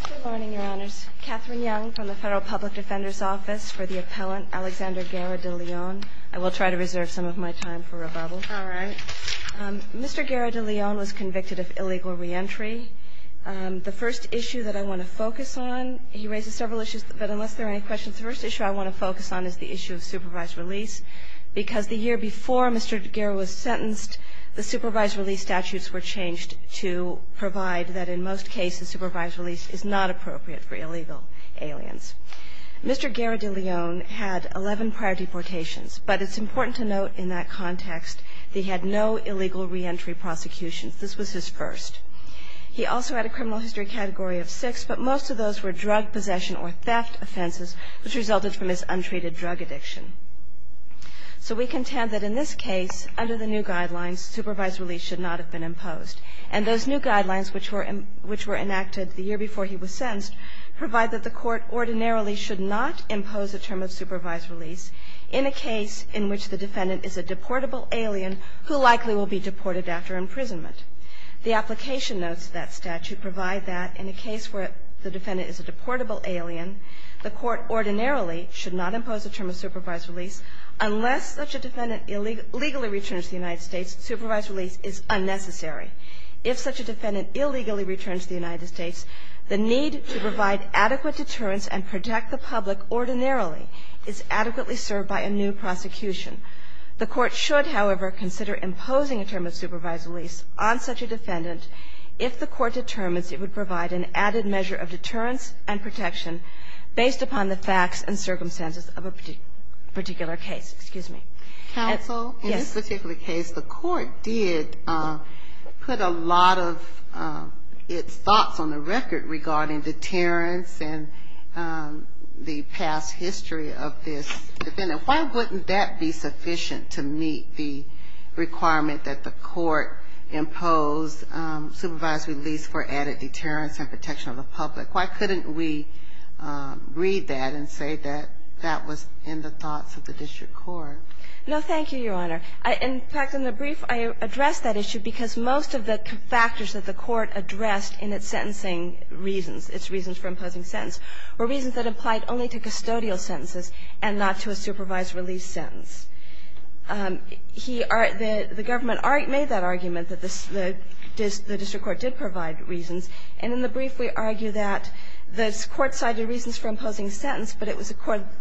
Good morning, Your Honors. Catherine Young from the Federal Public Defender's Office for the Appellant Alexander Guerra De Leon. I will try to reserve some of my time for rebuttal. All right. Mr. Guerra De Leon was convicted of illegal reentry. The first issue that I want to focus on, he raises several issues, but unless there are any questions, the first issue I want to focus on is the issue of supervised release, because the year before Mr. Guerra was sentenced, the supervised release statutes were changed to provide that in most cases supervised release is not appropriate for illegal aliens. Mr. Guerra De Leon had 11 prior deportations, but it's important to note in that context that he had no illegal reentry prosecutions. This was his first. He also had a criminal history category of six, but most of those were drug possession or theft offenses, which resulted from his untreated drug addiction. So we contend that in this case, under the new guidelines, supervised release should not have been imposed. And those new guidelines, which were enacted the year before he was sentenced, provide that the Court ordinarily should not impose a term of supervised release in a case in which the defendant is a deportable alien who likely will be deported after imprisonment. The application notes of that statute provide that in a case where the defendant is a deportable alien, the Court ordinarily should not impose a term of supervised release unless such a defendant illegally returns to the United States, supervised release is unnecessary. If such a defendant illegally returns to the United States, the need to provide adequate deterrence and protect the public ordinarily is adequately served by a new prosecution. The Court should, however, consider imposing a term of supervised release on such a defendant if the Court determines it would provide an added measure of deterrence and protection based upon the facts and circumstances of a particular case. Excuse me. Ginsburg. Counsel, in this particular case, the Court did put a lot of its thoughts on the record regarding deterrence and the past history of this defendant. Why wouldn't that be sufficient to meet the requirement that the Court impose supervised release for added deterrence and protection of the public? Why couldn't we read that and say that that was in the thoughts of the district court? No, thank you, Your Honor. In fact, in the brief I addressed that issue because most of the factors that the Court addressed in its sentencing reasons, its reasons for imposing sentence, were reasons that applied only to custodial sentences and not to a supervised release sentence. The government made that argument that the district court did provide reasons. And in the brief, we argue that the Court cited reasons for imposing sentence, but it was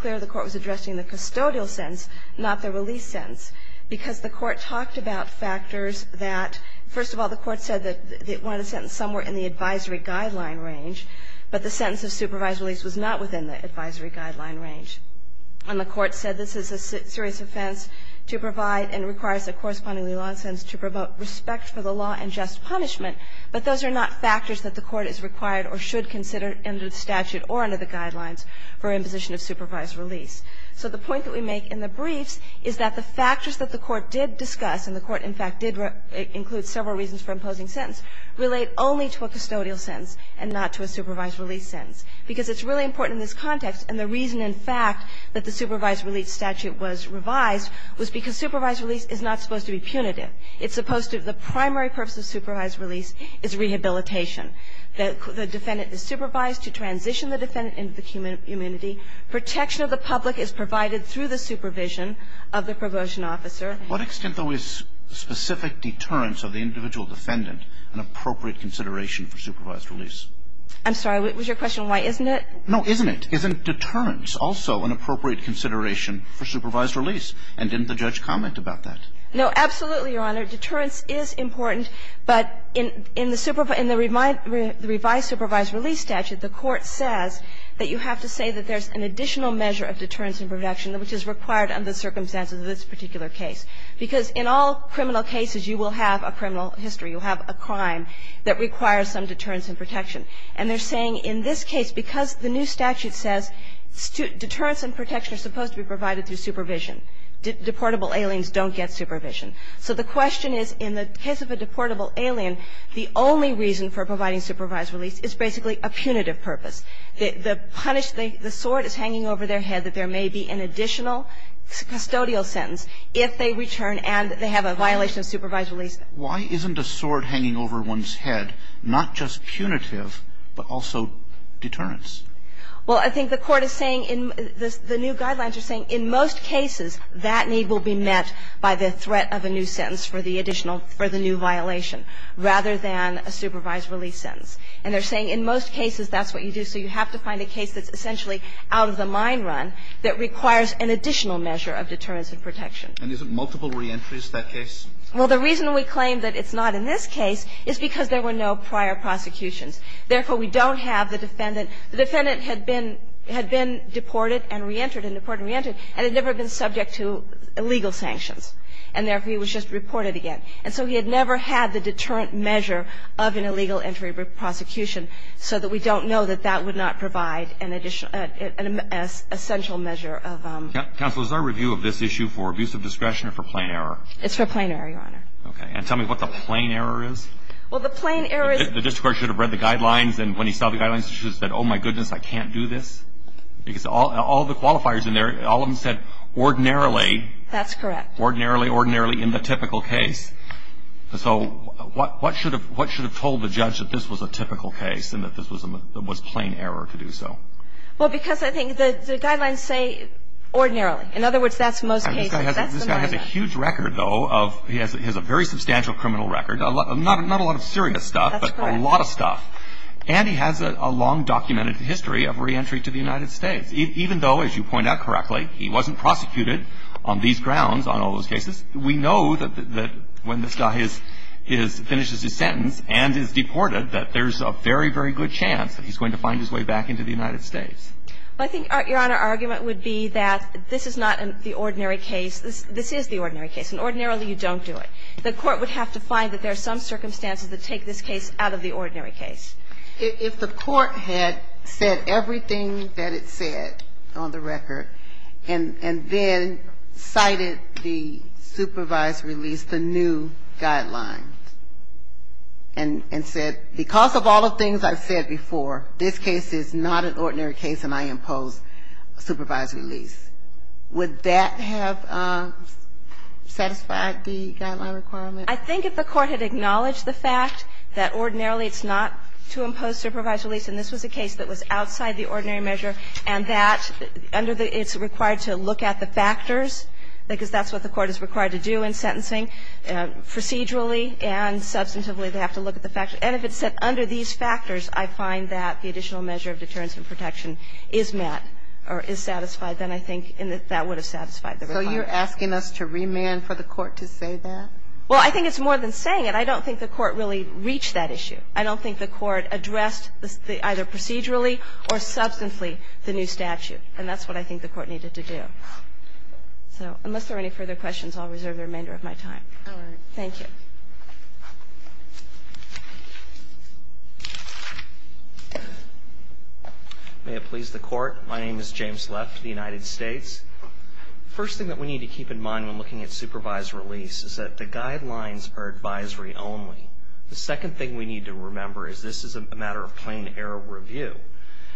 clear the Court was addressing the custodial sentence, not the release sentence, because the Court talked about factors that, first of all, the Court said that it wanted a sentence somewhere in the advisory guideline range, but the second that the sentence of supervised release was not within the advisory guideline range. And the Court said this is a serious offense to provide and requires a correspondingly long sentence to promote respect for the law and just punishment, but those are not factors that the Court is required or should consider under the statute or under the guidelines for imposition of supervised release. So the point that we make in the briefs is that the factors that the Court did discuss and the Court, in fact, did include several reasons for imposing sentence relate only to a custodial sentence and not to a supervised release sentence, because it's really important in this context. And the reason, in fact, that the supervised release statute was revised was because supervised release is not supposed to be punitive. It's supposed to be the primary purpose of supervised release is rehabilitation. The defendant is supervised to transition the defendant into the community. Protection of the public is provided through the supervision of the promotion officer. What extent, though, is specific deterrence of the individual defendant an appropriate consideration for supervised release? I'm sorry. Was your question why isn't it? No, isn't it? Isn't deterrence also an appropriate consideration for supervised release? And didn't the judge comment about that? No, absolutely, Your Honor. Deterrence is important, but in the revised supervised release statute, the Court says that you have to say that there's an additional measure of deterrence and protection which is required under the circumstances of this particular case, because in all criminal cases you will have a criminal history, you'll have a crime that requires some deterrence and protection. And they're saying in this case, because the new statute says deterrence and protection are supposed to be provided through supervision, deportable aliens don't get supervision. So the question is, in the case of a deportable alien, the only reason for providing supervised release is basically a punitive purpose. The punished, the sword is hanging over their head that there may be an additional custodial sentence if they return and they have a violation of supervised release. Why isn't a sword hanging over one's head not just punitive, but also deterrence? Well, I think the Court is saying in the new guidelines are saying in most cases that need will be met by the threat of a new sentence for the additional, for the new violation, rather than a supervised release sentence. And they're saying in most cases that's what you do. So you have to find a case that's essentially out of the mine run that requires an additional measure of deterrence and protection. And isn't multiple reentries that case? Well, the reason we claim that it's not in this case is because there were no prior prosecutions. Therefore, we don't have the defendant. The defendant had been deported and reentered and deported and reentered and had never been subject to illegal sanctions. And therefore, he was just reported again. And so he had never had the deterrent measure of an illegal entry prosecution so that we don't know that that would not provide an additional, an essential measure of ---- Counsel, is our review of this issue for abuse of discretion or for plain error? It's for plain error, Your Honor. Okay. And tell me what the plain error is. Well, the plain error is ---- The district court should have read the guidelines and when he saw the guidelines he should have said, oh, my goodness, I can't do this. Because all the qualifiers in there, all of them said ordinarily. That's correct. Ordinarily, ordinarily in the typical case. So what should have told the judge that this was a typical case and that this was plain error to do so? Well, because I think the guidelines say ordinarily. In other words, that's most cases. That's the norm. This guy has a huge record, though. He has a very substantial criminal record. Not a lot of serious stuff. That's correct. But a lot of stuff. And he has a long documented history of reentry to the United States. Even though, as you point out correctly, he wasn't prosecuted on these grounds, on all those cases, we know that when this guy finishes his sentence and is deported that there's a very, very good chance that he's going to find his way back into the United States. I think, Your Honor, our argument would be that this is not the ordinary case. This is the ordinary case. And ordinarily you don't do it. The court would have to find that there are some circumstances that take this case out of the ordinary case. If the court had said everything that it said on the record and then cited the supervised release, the new guidelines, and said because of all the things I've said before, this case is not an ordinary case and I impose supervised release, would that have satisfied the guideline requirement? I think if the court had acknowledged the fact that ordinarily it's not to impose supervised release, and this was a case that was outside the ordinary measure, and that under the – it's required to look at the factors, because that's what the court is required to do in sentencing, procedurally and substantively they have to look at the factors. And if it said under these factors, I find that the additional measure of deterrence and protection is met or is satisfied, then I think that would have satisfied the requirement. So you're asking us to remand for the court to say that? Well, I think it's more than saying it. I don't think the court really reached that issue. I don't think the court addressed either procedurally or substantively the new statute. And that's what I think the court needed to do. So unless there are any further questions, I'll reserve the remainder of my time. Thank you. May it please the Court. My name is James Left of the United States. The first thing that we need to keep in mind when looking at supervised release is that the guidelines are advisory only. The second thing we need to remember is this is a matter of plain error review.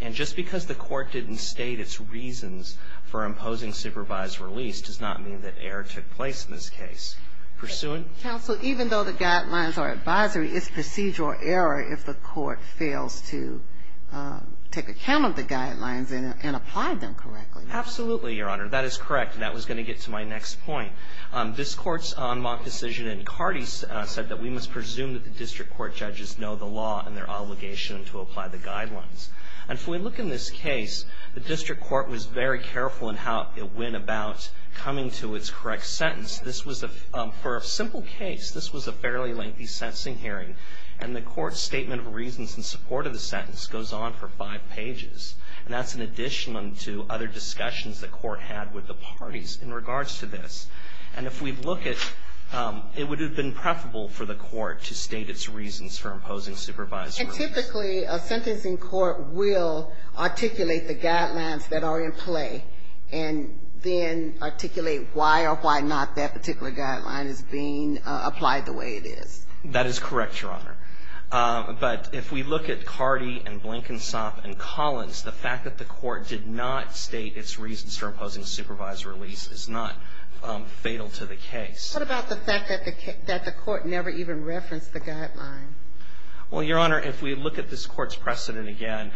And just because the court didn't state its reasons for imposing supervised release does not mean that error took place in this case. Pursuant – Counsel, even though the guidelines are advisory, it's procedural error if the court fails to take account of the guidelines and apply them correctly. Absolutely, Your Honor. That is correct. And that was going to get to my next point. This Court's en moc decision in Carty said that we must presume that the district court judges know the law and their obligation to apply the guidelines. And if we look in this case, the district court was very careful in how it went about coming to its correct sentence. This was a – for a simple case, this was a fairly lengthy sentencing hearing. And the court's statement of reasons in support of the sentence goes on for five pages. And that's in addition to other discussions the court had with the parties in regards to this. And if we look at – it would have been preferable for the court to state its reasons for imposing supervised release. And typically, a sentencing court will articulate the guidelines that are in play and then articulate why or why not that particular guideline is being applied the way it is. That is correct, Your Honor. But if we look at Carty and Blankensop and Collins, the fact that the court did not state its reasons for imposing supervised release is not fatal to the case. What about the fact that the court never even referenced the guideline? Well, Your Honor, if we look at this court's precedent again,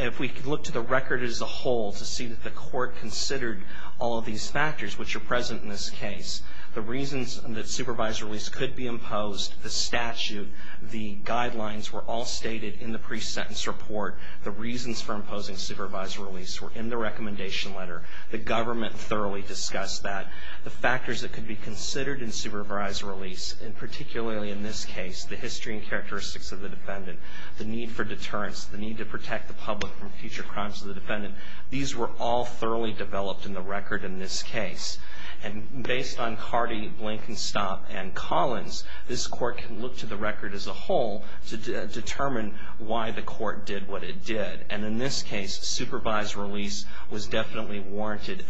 if we look to the record as a whole to see that the court considered all of these factors which are present in this case, the reasons that supervised release could be imposed, the statute, the guidelines were all stated in the pre-sentence report, the reasons for imposing supervised release were in the recommendation letter. The government thoroughly discussed that. The factors that could be considered in supervised release, and particularly in this case, the history and characteristics of the defendant, the need for deterrence, the need to protect the public from future crimes of the defendant, these were all thoroughly developed in the record in this case. And based on Carty, Blankensop, and Collins, this court can look to the record as a whole to determine why the court did what it did. And in this case, supervised release was definitely warranted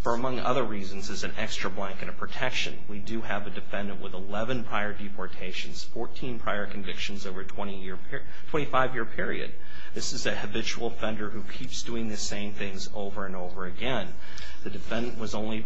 for, among other reasons, as an extra blanket of protection. We do have a defendant with 11 prior deportations, 14 prior convictions over a 25-year period. This is a habitual offender who keeps doing the same things over and over again. The defendant was only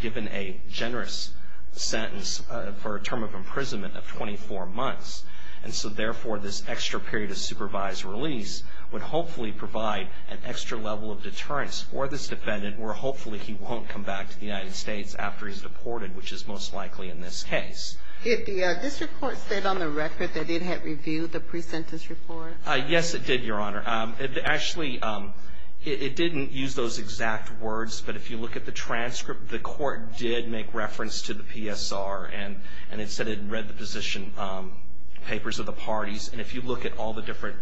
given a generous sentence for a term of imprisonment of 24 months. And so, therefore, this extra period of supervised release would hopefully provide an extra level of deterrence for this defendant, where hopefully he won't come back to the United States after he's deported, which is most likely in this case. Did the district court state on the record that it had reviewed the pre-sentence report? Yes, it did, Your Honor. Actually, it didn't use those exact words, but if you look at the transcript, the position papers of the parties, and if you look at all the different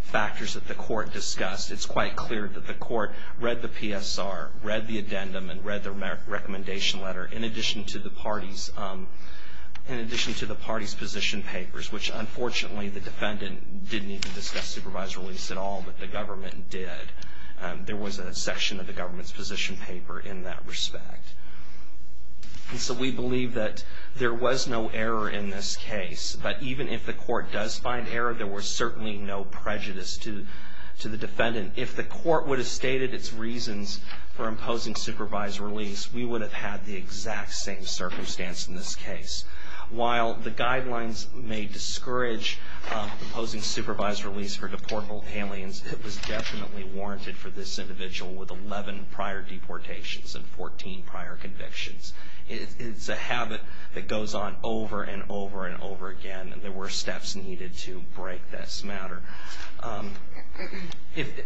factors that the court discussed, it's quite clear that the court read the PSR, read the addendum, and read the recommendation letter, in addition to the parties' position papers, which, unfortunately, the defendant didn't even discuss supervised release at all, but the government did. There was a section of the government's position paper in that respect. And so, we believe that there was no error in this case, but even if the court does find error, there was certainly no prejudice to the defendant. If the court would have stated its reasons for imposing supervised release, we would have had the exact same circumstance in this case. While the guidelines may discourage imposing supervised release for deportable aliens, it was definitely warranted for this individual with 11 prior deportations and 14 prior convictions. It's a habit that goes on over and over and over again, and there were steps needed to break this matter.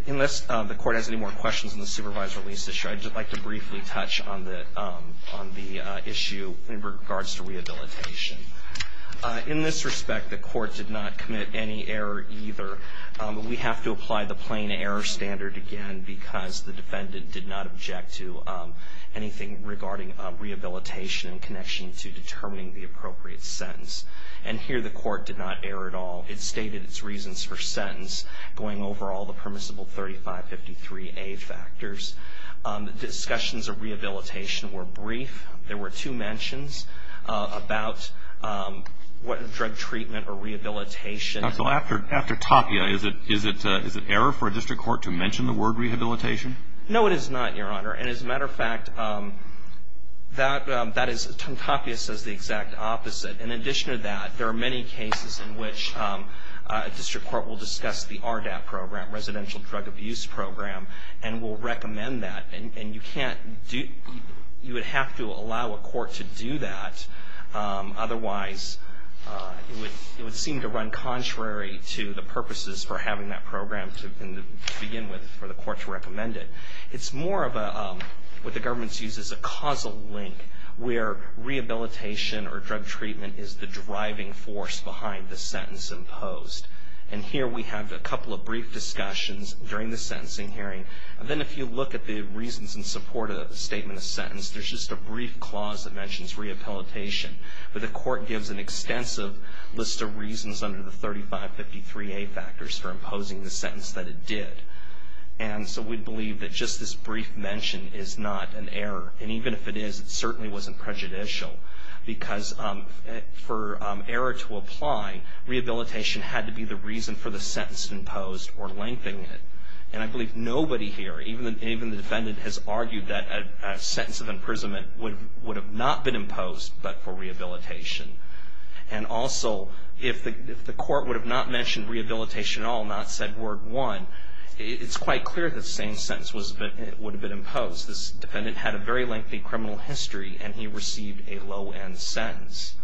Unless the court has any more questions on the supervised release issue, I'd just like to briefly touch on the issue in regards to rehabilitation. In this respect, the court did not commit any error either. We have to apply the plain error standard again because the defendant did not object to anything regarding rehabilitation in connection to determining the appropriate sentence. And here, the court did not err at all. It stated its reasons for sentence, going over all the permissible 3553A factors. Discussions of rehabilitation were brief. There were two mentions about drug treatment or rehabilitation. After Tapia, is it error for a district court to mention the word rehabilitation? No, it is not, Your Honor. And as a matter of fact, Tapia says the exact opposite. In addition to that, there are many cases in which a district court will discuss the RDAP program, Residential Drug Abuse Program, and will recommend that. And you would have to allow a court to do that. Otherwise, it would seem to run contrary to the purposes for having that program to begin with for the court to recommend it. It's more of what the government sees as a causal link where rehabilitation or drug treatment is the driving force behind the sentence imposed. And here, we have a couple of brief discussions during the sentencing hearing. And then if you look at the reasons in support of the statement of sentence, there's just a brief clause that mentions rehabilitation. But the court gives an extensive list of reasons under the 3553A factors for imposing the sentence that it did. And so we believe that just this brief mention is not an error. And even if it is, it certainly wasn't prejudicial. Because for error to apply, rehabilitation had to be the reason for the sentence imposed or lengthening it. And I believe nobody here, even the defendant, has argued that a sentence of imprisonment would have not been imposed but for rehabilitation. And also, if the court would have not mentioned rehabilitation at all, not said word one, it's quite clear that the same sentence would have been imposed. This defendant had a very lengthy criminal history, and he received a low-end sentence.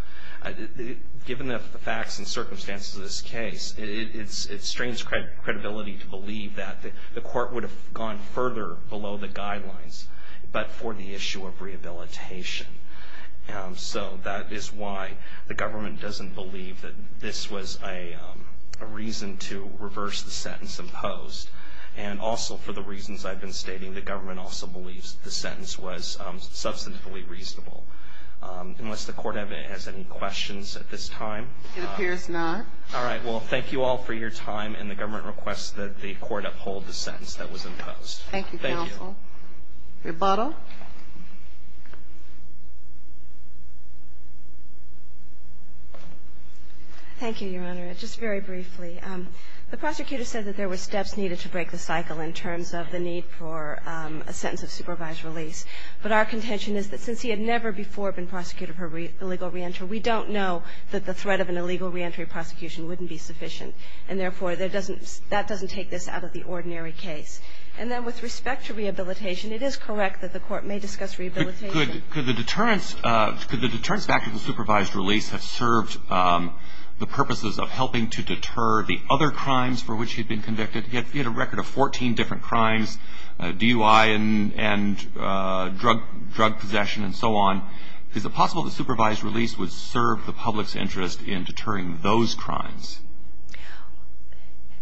Given the facts and circumstances of this case, it strains credibility to believe that the court would have gone further below the guidelines but for the issue of rehabilitation. So that is why the government doesn't believe that this was a reason to reverse the sentence imposed. And also, for the reasons I've been stating, the government also believes the sentence was substantively reasonable. Unless the court has any questions at this time. It appears not. All right. Well, thank you all for your time. And the government requests that the court uphold the sentence that was imposed. Thank you, counsel. Thank you. Ms. Lottle. Thank you, Your Honor. Just very briefly. The prosecutor said that there were steps needed to break the cycle in terms of the need for a sentence of supervised release. But our contention is that since he had never before been prosecuted for illegal reentry, we don't know that the threat of an illegal reentry prosecution wouldn't be sufficient. And therefore, that doesn't take this out of the ordinary case. And then with respect to rehabilitation, it is correct that the court may discuss rehabilitation. Could the deterrence factor of the supervised release have served the purposes of helping to deter the other crimes for which he had been convicted? He had a record of 14 different crimes, DUI and drug possession and so on. Is it possible the supervised release would serve the public's interest in deterring those crimes?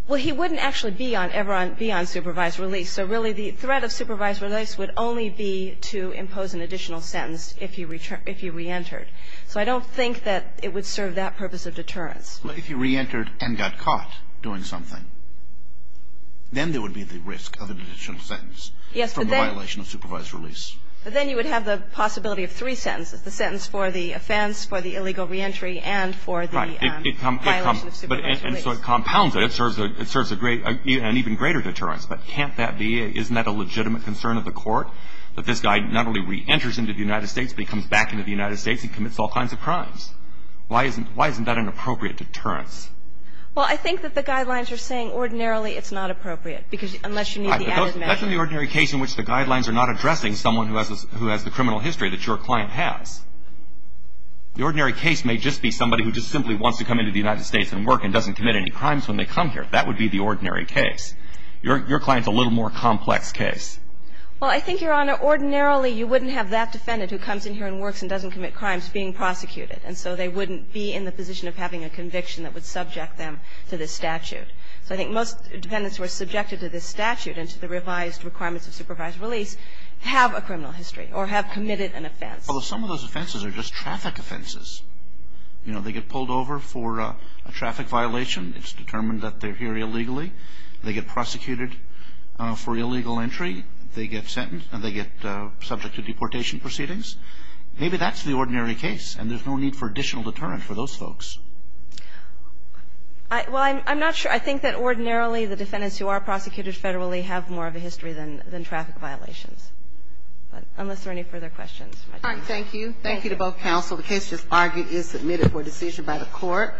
Well, he wouldn't actually be on supervised release. So really the threat of supervised release would only be to impose an additional sentence if he reentered. So I don't think that it would serve that purpose of deterrence. But if he reentered and got caught doing something, then there would be the risk of an additional sentence from the violation of supervised release. Yes, but then you would have the possibility of three sentences, the sentence release. And so it compounds it. It serves an even greater deterrence. But can't that be? Isn't that a legitimate concern of the court, that this guy not only reenters into the United States, but he comes back into the United States and commits all kinds of crimes? Why isn't that an appropriate deterrence? Well, I think that the guidelines are saying ordinarily it's not appropriate because unless you need the added measure. That's in the ordinary case in which the guidelines are not addressing someone who has the criminal history that your client has. The ordinary case may just be somebody who just simply wants to come into the United States and doesn't commit any crimes when they come here. That would be the ordinary case. Your client's a little more complex case. Well, I think, Your Honor, ordinarily you wouldn't have that defendant who comes in here and works and doesn't commit crimes being prosecuted. And so they wouldn't be in the position of having a conviction that would subject them to this statute. So I think most defendants who are subjected to this statute and to the revised requirements of supervised release have a criminal history or have committed an offense. Although some of those offenses are just traffic offenses. You know, they get pulled over for a traffic violation. It's determined that they're here illegally. They get prosecuted for illegal entry. They get sentenced and they get subject to deportation proceedings. Maybe that's the ordinary case. And there's no need for additional deterrent for those folks. Well, I'm not sure. I think that ordinarily the defendants who are prosecuted federally have more of a history than traffic violations. But unless there are any further questions. Thank you. Thank you to both counsel. The case just argued is submitted for decision by the court.